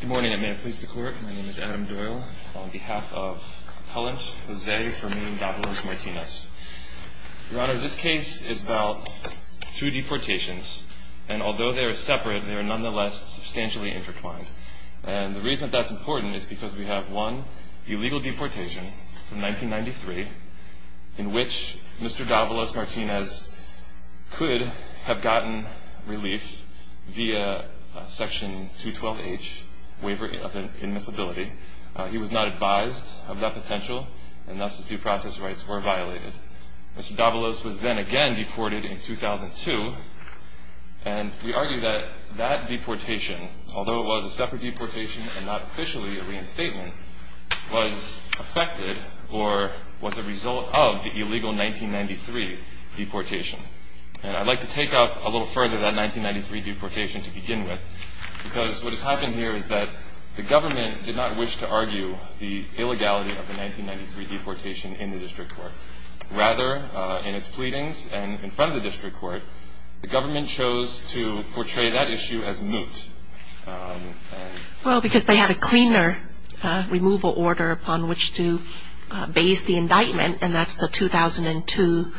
Good morning, and may it please the Court. My name is Adam Doyle, on behalf of Appellant Jose Fermin Davalos-Martinez. Your Honor, this case is about two deportations, and although they are separate, they are nonetheless substantially intertwined. And the reason that that's important is because we have one illegal deportation from 1993, in which Mr. Davalos-Martinez could have gotten relief via Section 212H, Waiver of Immiscibility. He was not advised of that potential, and thus his due process rights were violated. Mr. Davalos was then again deported in 2002, and we argue that that deportation, although it was a separate deportation and not officially a reinstatement, was affected or was a result of the illegal 1993 deportation. And I'd like to take up a little further that 1993 deportation to begin with, because what has happened here is that the government did not wish to argue the illegality of the 1993 deportation in the District Court. Rather, in its pleadings and in front of the District Court, the government chose to portray that issue as moot. Well, because they had a cleaner removal order upon which to base the indictment, and that's the 2002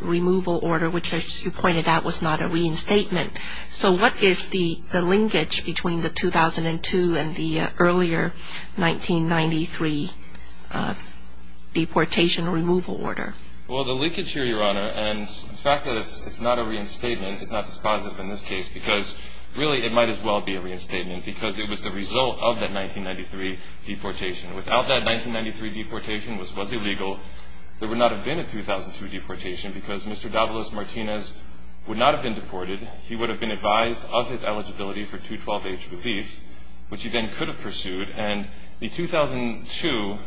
removal order, which, as you pointed out, was not a reinstatement. So what is the linkage between the 2002 and the earlier 1993 deportation removal order? Well, the linkage here, Your Honor, and the fact that it's not a reinstatement is not dispositive in this case, because really it might as well be a reinstatement because it was the result of that 1993 deportation. Without that 1993 deportation, which was illegal, there would not have been a 2002 deportation because Mr. Davalos Martinez would not have been deported. He would have been advised of his eligibility for 212H relief, which he then could have pursued. And the 2002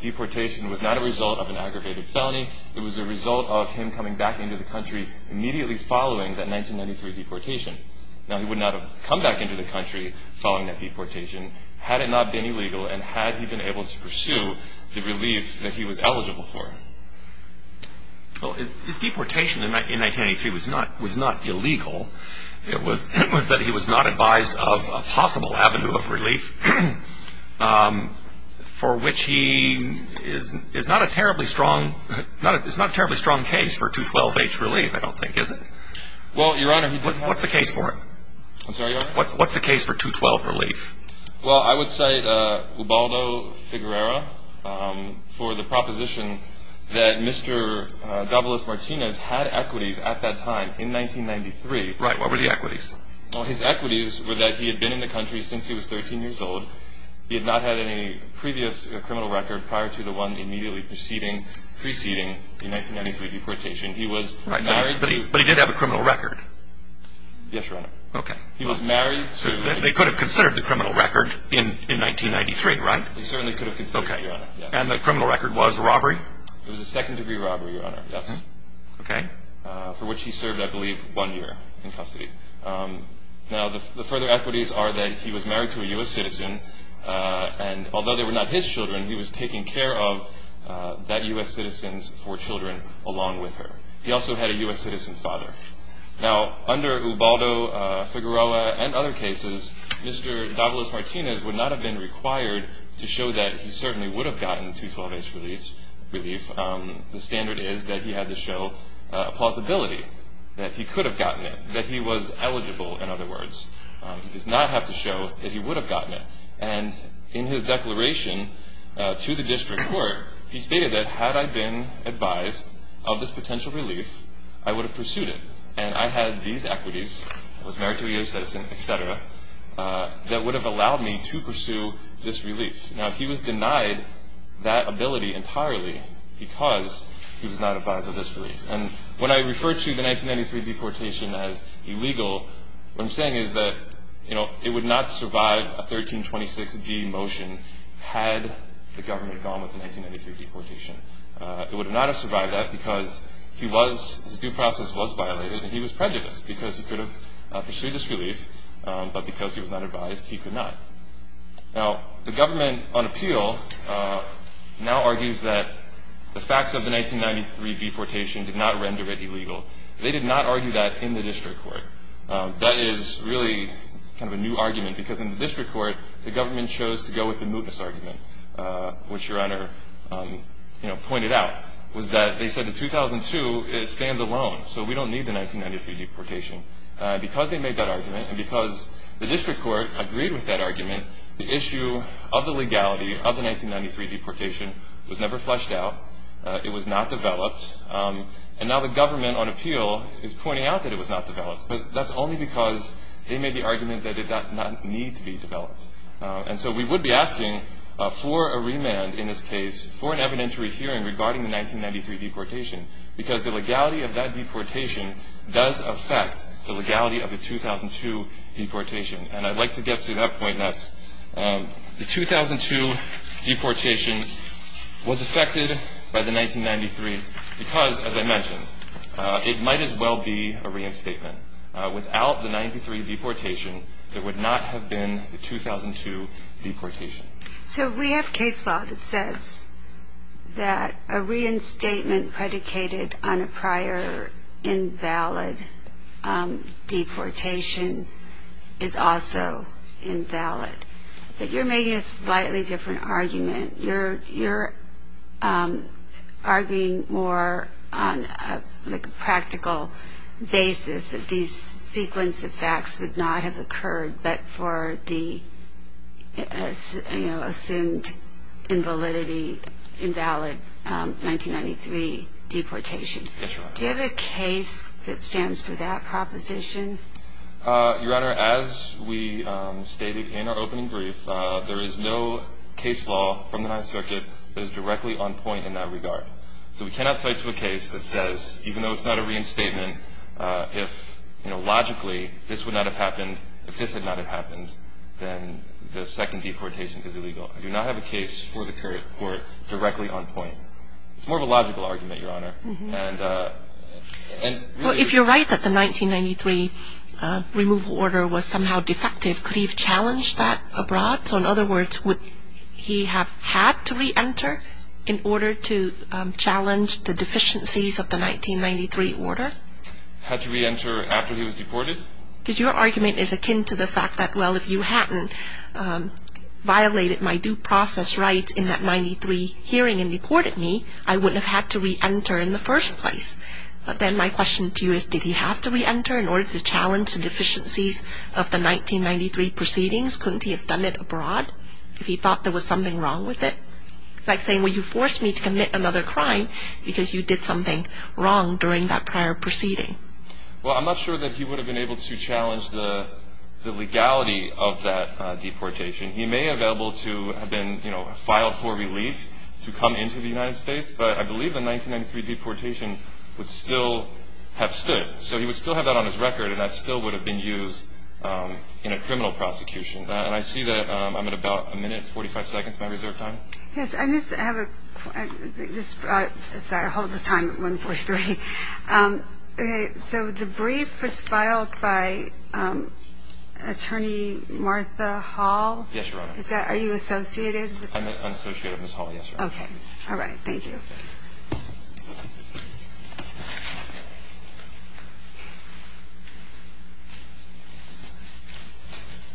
deportation was not a result of an aggravated felony. It was a result of him coming back into the country immediately following that 1993 deportation. Now, he would not have come back into the country following that deportation had it not been illegal and had he been able to pursue the relief that he was eligible for. Well, his deportation in 1993 was not illegal. It was that he was not advised of a possible avenue of relief, for which he is not a terribly strong case for 212H relief, I don't think, is it? Well, Your Honor, he didn't have to. What's the case for him? I'm sorry, Your Honor? What's the case for 212 relief? Well, I would cite Ubaldo Figuerera for the proposition that Mr. Davalos Martinez had equities at that time in 1993. Right. What were the equities? Well, his equities were that he had been in the country since he was 13 years old. He had not had any previous criminal record prior to the one immediately preceding the 1993 deportation. He was married to But he did have a criminal record. Yes, Your Honor. Okay. He was married to They could have considered the criminal record in 1993, right? He certainly could have considered that, Your Honor. And the criminal record was robbery? It was a second-degree robbery, Your Honor, yes. Okay. For which he served, I believe, one year in custody. Now, the further equities are that he was married to a U.S. citizen, and although they were not his children, he was taking care of that U.S. citizen's four children along with her. He also had a U.S. citizen's father. Now, under Ubaldo, Figueroa, and other cases, Mr. Davila-Martinez would not have been required to show that he certainly would have gotten 212H relief. The standard is that he had to show plausibility, that he could have gotten it, that he was eligible, in other words. He does not have to show that he would have gotten it. And in his declaration to the district court, he stated that, had I been advised of this potential relief, I would have pursued it, and I had these equities, I was married to a U.S. citizen, et cetera, that would have allowed me to pursue this relief. Now, he was denied that ability entirely because he was not advised of this relief. And when I refer to the 1993 deportation as illegal, what I'm saying is that it would not survive a 1326D motion had the government gone with the 1993 deportation. It would not have survived that because his due process was violated, and he was prejudiced because he could have pursued this relief, but because he was not advised, he could not. Now, the government, on appeal, now argues that the facts of the 1993 deportation did not render it illegal. They did not argue that in the district court. That is really kind of a new argument because, in the district court, the government chose to go with the mootness argument, which Your Honor pointed out, was that they said that 2002 is standalone, so we don't need the 1993 deportation. Because they made that argument and because the district court agreed with that argument, the issue of the legality of the 1993 deportation was never fleshed out. It was not developed. And now the government, on appeal, is pointing out that it was not developed, but that's only because they made the argument that it did not need to be developed. And so we would be asking for a remand in this case for an evidentiary hearing regarding the 1993 deportation because the legality of that deportation does affect the legality of the 2002 deportation. And I'd like to get to that point next. The 2002 deportation was affected by the 1993 because, as I mentioned, it might as well be a reinstatement. Without the 93 deportation, there would not have been the 2002 deportation. So we have case law that says that a reinstatement predicated on a prior invalid deportation is also invalid. But you're making a slightly different argument. You're arguing more on a practical basis that these sequence of facts would not have occurred but for the assumed invalidity, invalid 1993 deportation. Yes, Your Honor. Do you have a case that stands for that proposition? Your Honor, as we stated in our opening brief, there is no case law from the Ninth Circuit that is directly on point in that regard. So we cannot cite to a case that says, even though it's not a reinstatement, if logically this would not have happened, if this had not happened, then the second deportation is illegal. I do not have a case for the court directly on point. It's more of a logical argument, Your Honor. Well, if you're right that the 1993 removal order was somehow defective, could he have challenged that abroad? So in other words, would he have had to reenter in order to challenge the deficiencies of the 1993 order? Had to reenter after he was deported? Because your argument is akin to the fact that, well, if you hadn't violated my due process rights in that 93 hearing and deported me, I wouldn't have had to reenter in the first place. But then my question to you is, did he have to reenter in order to challenge the deficiencies of the 1993 proceedings? Couldn't he have done it abroad if he thought there was something wrong with it? It's like saying, well, you forced me to commit another crime because you did something wrong during that prior proceeding. Well, I'm not sure that he would have been able to challenge the legality of that deportation. He may have been able to have been filed for relief to come into the United States, but I believe the 1993 deportation would still have stood. So he would still have that on his record, and that still would have been used in a criminal prosecution. And I see that I'm at about a minute and 45 seconds of my reserve time. Yes, I just have a point. Sorry, I hold the time at 1.43. So the brief was filed by Attorney Martha Hall? Yes, Your Honor. Are you associated? I'm associated with Ms. Hall, yes, Your Honor. Okay. All right. Thank you.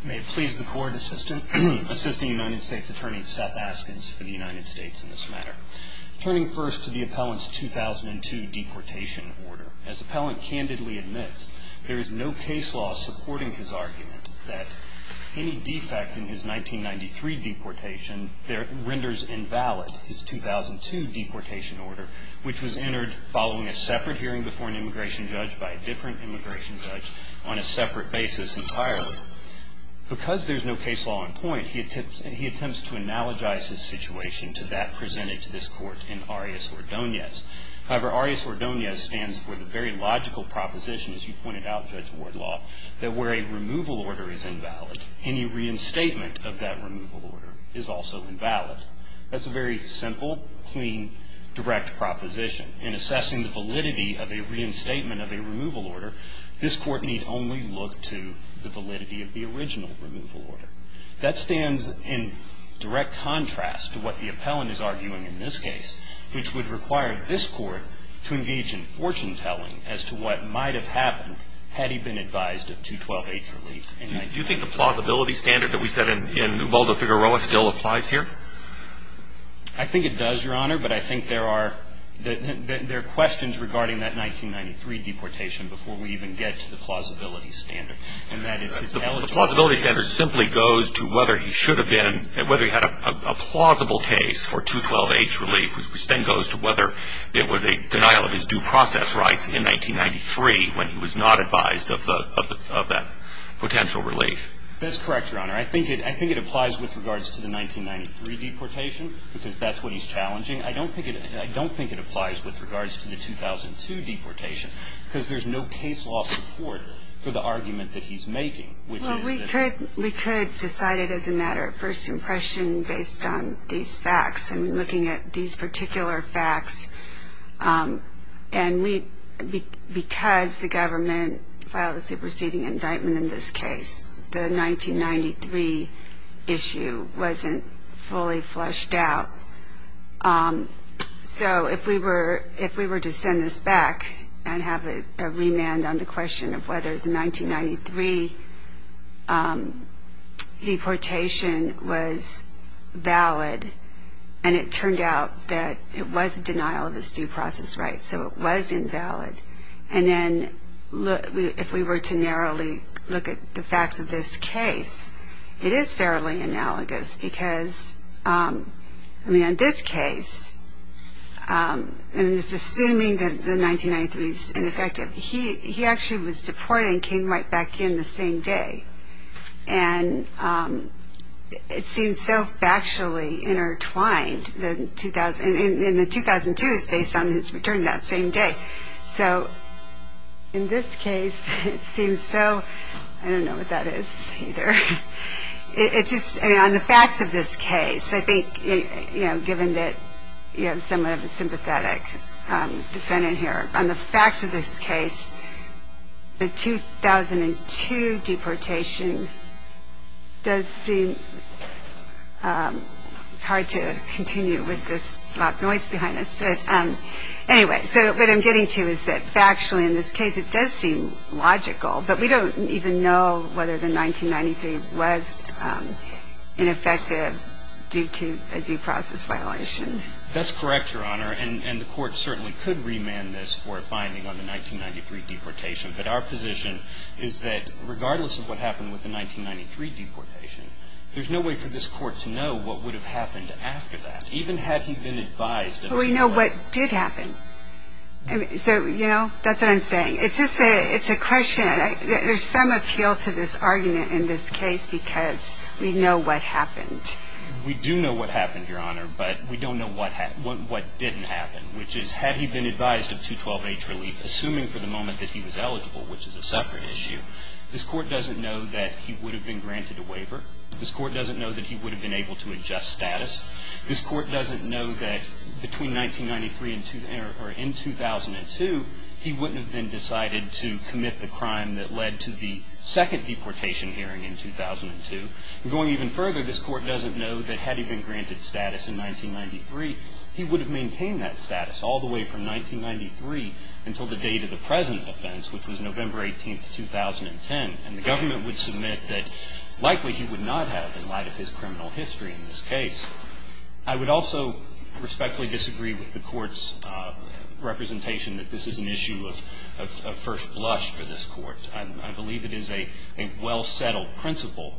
May it please the Court, Assistant United States Attorney Seth Askins for the United States in this matter. Turning first to the appellant's 2002 deportation order, as the appellant candidly admits, there is no case law supporting his argument that any defect in his 1993 deportation renders invalid his 2002 deportation order, which was entered following a separate hearing before an immigration judge by a different immigration judge on a separate basis entirely. Because there's no case law in point, he attempts to analogize his situation to that presented to this Court in Arias-Ordonez. However, Arias-Ordonez stands for the very logical proposition, as you pointed out, Judge Wardlaw, that where a removal order is invalid, any reinstatement of that removal order is also invalid. That's a very simple, clean, direct proposition. In assessing the validity of a reinstatement of a removal order, this Court need only look to the validity of the original removal order. That stands in direct contrast to what the appellant is arguing in this case, which would require this Court to engage in fortune-telling as to what might have happened had he been advised of 212-H relief in 1993. Do you think the plausibility standard that we set in Muldo-Figueroa still applies here? I think it does, Your Honor, but I think there are questions regarding that 1993 deportation before we even get to the plausibility standard. And that is his eligible case. The plausibility standard simply goes to whether he should have been, whether he had a plausible case for 212-H relief, which then goes to whether it was a denial of his due process rights in 1993 when he was not advised of that potential relief. That's correct, Your Honor. I think it applies with regards to the 1993 deportation, because that's what he's challenging. I don't think it applies with regards to the 2002 deportation, because there's no case law support for the argument that he's making, which is that we could decide it as a matter of first impression based on these facts and looking at these particular facts. And because the government filed a superseding indictment in this case, the 1993 issue wasn't fully fleshed out. So if we were to send this back and have a remand on the question of whether the 1993 deportation was valid, and it turned out that it was a denial of his due process rights, so it was invalid, and then if we were to narrowly look at the facts of this case, it is fairly analogous, because, I mean, in this case, I'm just assuming that the 1993 is ineffective. He actually was deported and came right back in the same day. And it seems so factually intertwined. And the 2002 is based on his return that same day. So in this case, it seems so – I don't know what that is either. It just – I mean, on the facts of this case, I think, you know, given that you have somewhat of a sympathetic defendant here, on the facts of this case, the 2002 deportation does seem – it's hard to continue with this loud noise behind us. But anyway, so what I'm getting to is that factually in this case it does seem logical, but we don't even know whether the 1993 was ineffective due to a due process violation. That's correct, Your Honor. And the Court certainly could remand this for a finding on the 1993 deportation. But our position is that regardless of what happened with the 1993 deportation, there's no way for this Court to know what would have happened after that, even had he been advised of it. But we know what did happen. So, you know, that's what I'm saying. It's just a – it's a question. There's some appeal to this argument in this case because we know what happened. We do know what happened, Your Honor, but we don't know what didn't happen, which is had he been advised of 212H relief, assuming for the moment that he was eligible, which is a separate issue, this Court doesn't know that he would have been granted a waiver. This Court doesn't know that he would have been able to adjust status. This Court doesn't know that between 1993 and – or in 2002, he wouldn't have then decided to commit the crime that led to the second deportation hearing in 2002. And going even further, this Court doesn't know that had he been granted status in 1993, he would have maintained that status all the way from 1993 until the date of the present offense, which was November 18th, 2010. And the government would submit that likely he would not have in light of his criminal history in this case. I would also respectfully disagree with the Court's representation that this is an issue of first blush for this Court. I believe it is a well-settled principle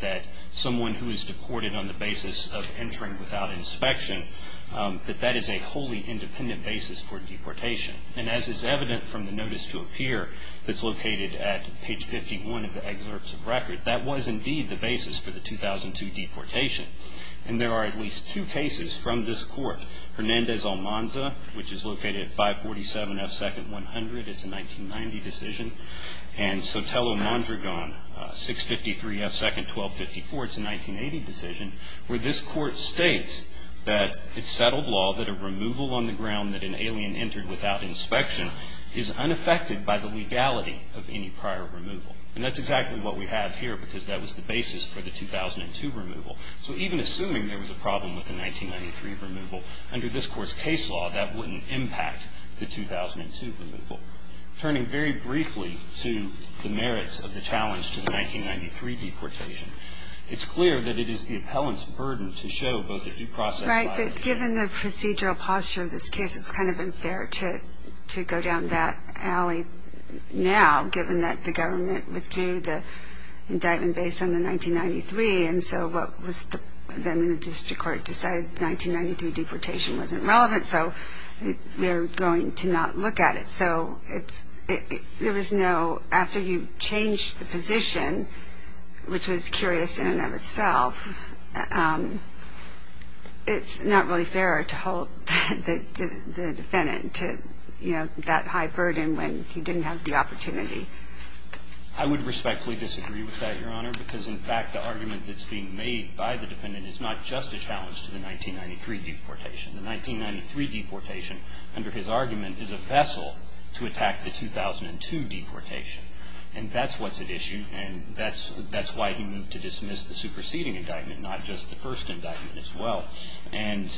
that someone who is deported on the basis of entering without inspection, that that is a wholly independent basis for deportation. And as is evident from the notice to appear that's located at page 51 of the excerpts of record, that was indeed the basis for the 2002 deportation. And there are at least two cases from this Court. Hernandez-Almanza, which is located at 547F2-100. It's a 1990 decision. And Sotelo-Mondragon, 653F2-1254. It's a 1980 decision where this Court states that it's settled law that a removal on the ground that an alien entered without inspection is unaffected by the legality of any prior removal. And that's exactly what we have here because that was the basis for the 2002 removal. So even assuming there was a problem with the 1993 removal, under this Court's case law, that wouldn't impact the 2002 removal. Turning very briefly to the merits of the challenge to the 1993 deportation, it's clear that it is the appellant's burden to show both a due process violation Right. But given the procedural posture of this case, it's kind of unfair to go down that alley now, given that the government withdrew the indictment based on the 1993. And so what was then in the district court decided, 1993 deportation wasn't relevant, so we're going to not look at it. So there was no, after you changed the position, which was curious in and of itself, it's not really fair to hold the defendant to that high burden when he didn't have the opportunity. I would respectfully disagree with that, Your Honor, because, in fact, the argument that's being made by the defendant is not just a challenge to the 1993 deportation. The 1993 deportation, under his argument, is a vessel to attack the 2002 deportation. And that's what's at issue, and that's why he moved to dismiss the superseding indictment, not just the first indictment as well. And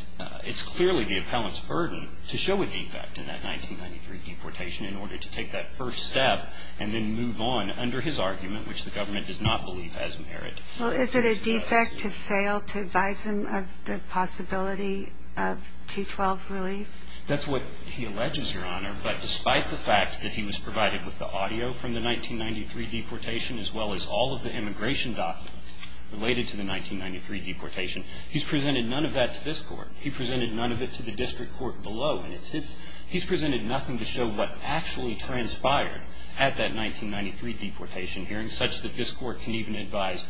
it's clearly the appellant's burden to show a defect in that 1993 deportation in order to take that first step and then move on under his argument, which the government does not believe has merit. Well, is it a defect to fail to advise him of the possibility of 212 relief? That's what he alleges, Your Honor. But despite the fact that he was provided with the audio from the 1993 deportation as well as all of the immigration documents related to the 1993 deportation, he's presented none of that to this Court. He presented none of it to the district court below. And he's presented nothing to show what actually transpired at that 1993 deportation hearing such that this Court can even advise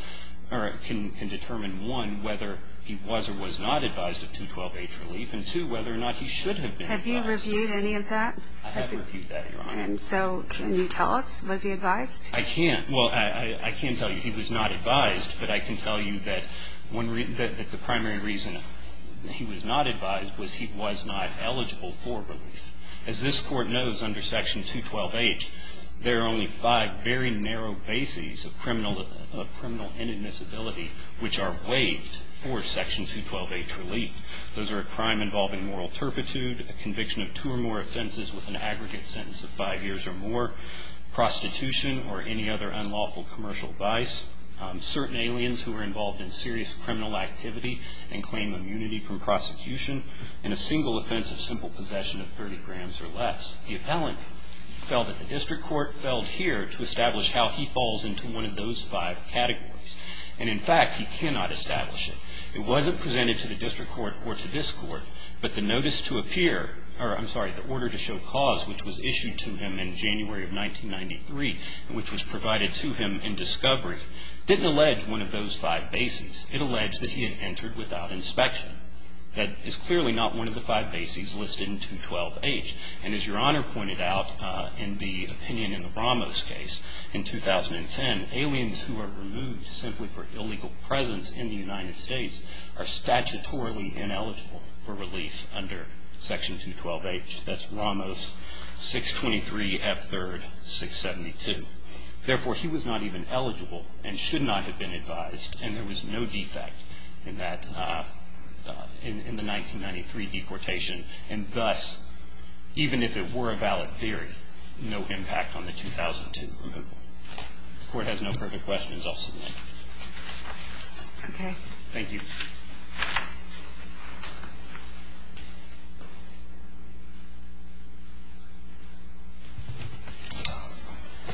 or can determine, one, whether he was or was not advised of 212H relief, and, two, whether or not he should have been advised. Have you reviewed any of that? I have reviewed that, Your Honor. And so can you tell us, was he advised? I can't. Well, I can tell you he was not advised, but I can tell you that the primary reason he was not advised was he was not eligible for relief. As this Court knows, under Section 212H, there are only five very narrow bases of criminal inadmissibility which are waived for Section 212H relief. Those are a crime involving moral turpitude, a conviction of two or more offenses with an aggregate sentence of five years or more, prostitution or any other unlawful commercial vice, certain aliens who are involved in serious criminal activity and claim immunity from prosecution, and a single offense of simple possession of 30 grams or less. The appellant felt that the district court felled here to establish how he falls into one of those five categories. And, in fact, he cannot establish it. It wasn't presented to the district court or to this Court, but the notice to appear or, I'm sorry, the order to show cause which was issued to him in January of 1993 and which was provided to him in discovery didn't allege one of those five bases. It alleged that he had entered without inspection. That is clearly not one of the five bases listed in 212H. And as Your Honor pointed out in the opinion in the Ramos case in 2010, aliens who are removed simply for illegal presence in the United States are statutorily ineligible for relief under Section 212H. That's Ramos 623F3-672. Therefore, he was not even eligible and should not have been advised, and there was no defect in that, in the 1993 deportation. And thus, even if it were a valid theory, no impact on the 2002 removal. If the Court has no further questions, I'll submit. Okay. Thank you.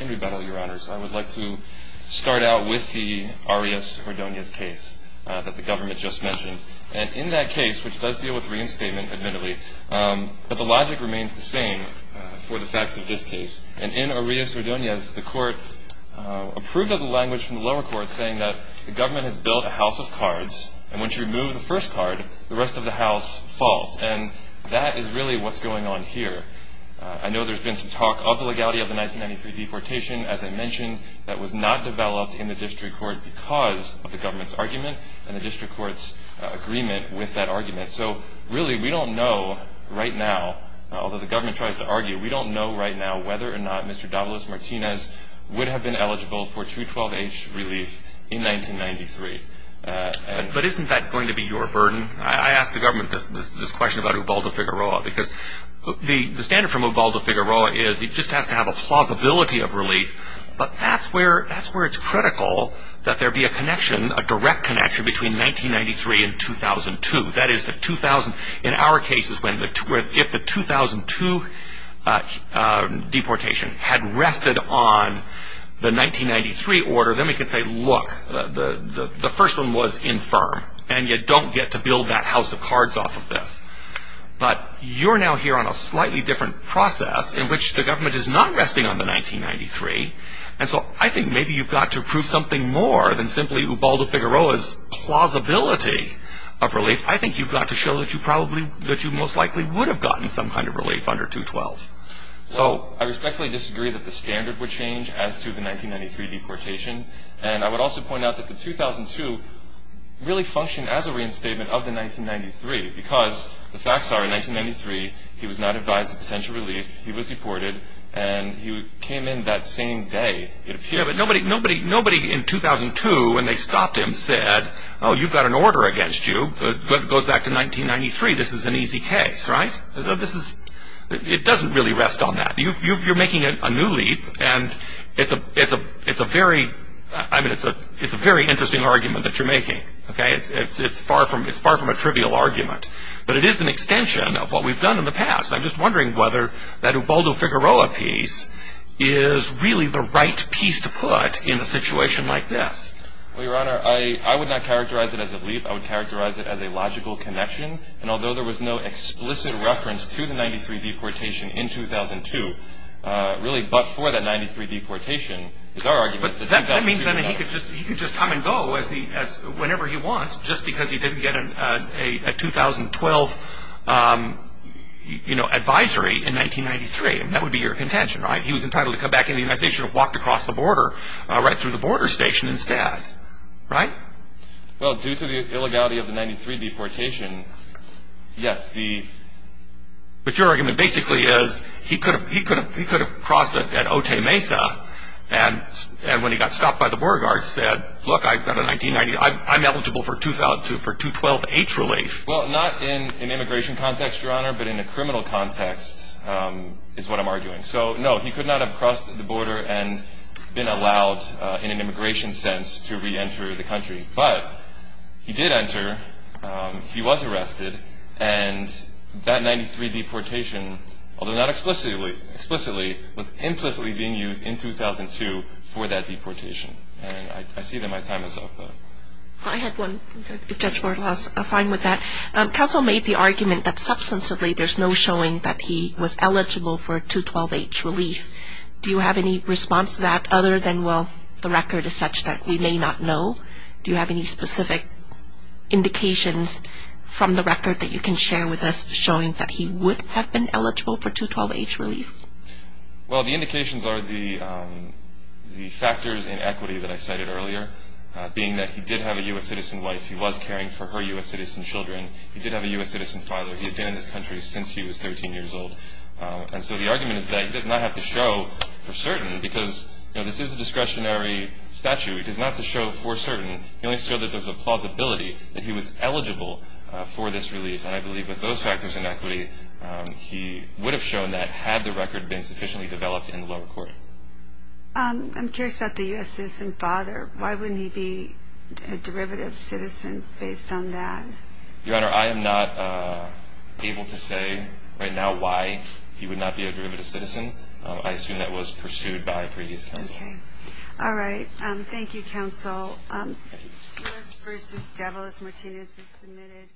Andrew Bettle, Your Honors. I would like to start out with the Arias-Ordonez case that the government just mentioned. And in that case, which does deal with reinstatement, admittedly, but the logic remains the same for the facts of this case. And in Arias-Ordonez, the Court approved of the language from the lower court And once you remove the first card, the rest of the house falls. And that is really what's going on here. I know there's been some talk of the legality of the 1993 deportation, as I mentioned, that was not developed in the district court because of the government's argument and the district court's agreement with that argument. So, really, we don't know right now, although the government tries to argue, we don't know right now whether or not Mr. Davalos Martinez would have been eligible for 212H relief in 1993. But isn't that going to be your burden? I ask the government this question about Ubaldo Figueroa because the standard from Ubaldo Figueroa is he just has to have a plausibility of relief. But that's where it's critical that there be a connection, a direct connection, between 1993 and 2002. That is, in our cases, if the 2002 deportation had rested on the 1993 order, then we could say, look, the first one was infirm. And you don't get to build that house of cards off of this. But you're now here on a slightly different process in which the government is not resting on the 1993. And so I think maybe you've got to prove something more than simply Ubaldo Figueroa's plausibility of relief. I think you've got to show that you probably, that you most likely would have gotten some kind of relief under 212. Well, I respectfully disagree that the standard would change as to the 1993 deportation. And I would also point out that the 2002 really functioned as a reinstatement of the 1993 because the facts are, in 1993, he was not advised of potential relief, he was deported, and he came in that same day. Yeah, but nobody in 2002, when they stopped him, said, oh, you've got an order against you, but it goes back to 1993. This is an easy case, right? It doesn't really rest on that. You're making a new leap, and it's a very interesting argument that you're making, okay? It's far from a trivial argument. But it is an extension of what we've done in the past. I'm just wondering whether that Ubaldo Figueroa piece is really the right piece to put in a situation like this. Well, Your Honor, I would not characterize it as a leap. I would characterize it as a logical connection. And although there was no explicit reference to the 93 deportation in 2002, really but for that 93 deportation is our argument. But that means that he could just come and go whenever he wants just because he didn't get a 2012 advisory in 1993, and that would be your contention, right? He was entitled to come back into the United States. He should have walked across the border right through the border station instead, right? Well, due to the illegality of the 93 deportation, yes, the – But your argument basically is he could have crossed at Otay Mesa, and when he got stopped by the border guard said, look, I've got a 1990 – I'm eligible for 2012 age relief. Well, not in an immigration context, Your Honor, but in a criminal context is what I'm arguing. So, no, he could not have crossed the border and been allowed in an immigration sense to re-enter the country. But he did enter. He was arrested. And that 93 deportation, although not explicitly, was implicitly being used in 2002 for that deportation. And I see that my time is up. I had one. If Judge Bartolau is fine with that. Counsel made the argument that substantively there's no showing that he was eligible for 212 age relief. Do you have any response to that other than, well, the record is such that we may not know? Do you have any specific indications from the record that you can share with us showing that he would have been eligible for 212 age relief? Well, the indications are the factors in equity that I cited earlier, being that he did have a U.S. citizen wife. He was caring for her U.S. citizen children. He did have a U.S. citizen father. He had been in this country since he was 13 years old. And so the argument is that he does not have to show for certain because, you know, this is a discretionary statute. He does not have to show for certain. He only showed that there's a plausibility that he was eligible for this relief. And I believe with those factors in equity, he would have shown that had the record been sufficiently developed in the lower court. I'm curious about the U.S. citizen father. Why wouldn't he be a derivative citizen based on that? Your Honor, I am not able to say right now why. He would not be a derivative citizen. I assume that was pursued by previous counsel. Okay. All right. Thank you, counsel. Lewis v. DeVos, Martinez is submitted.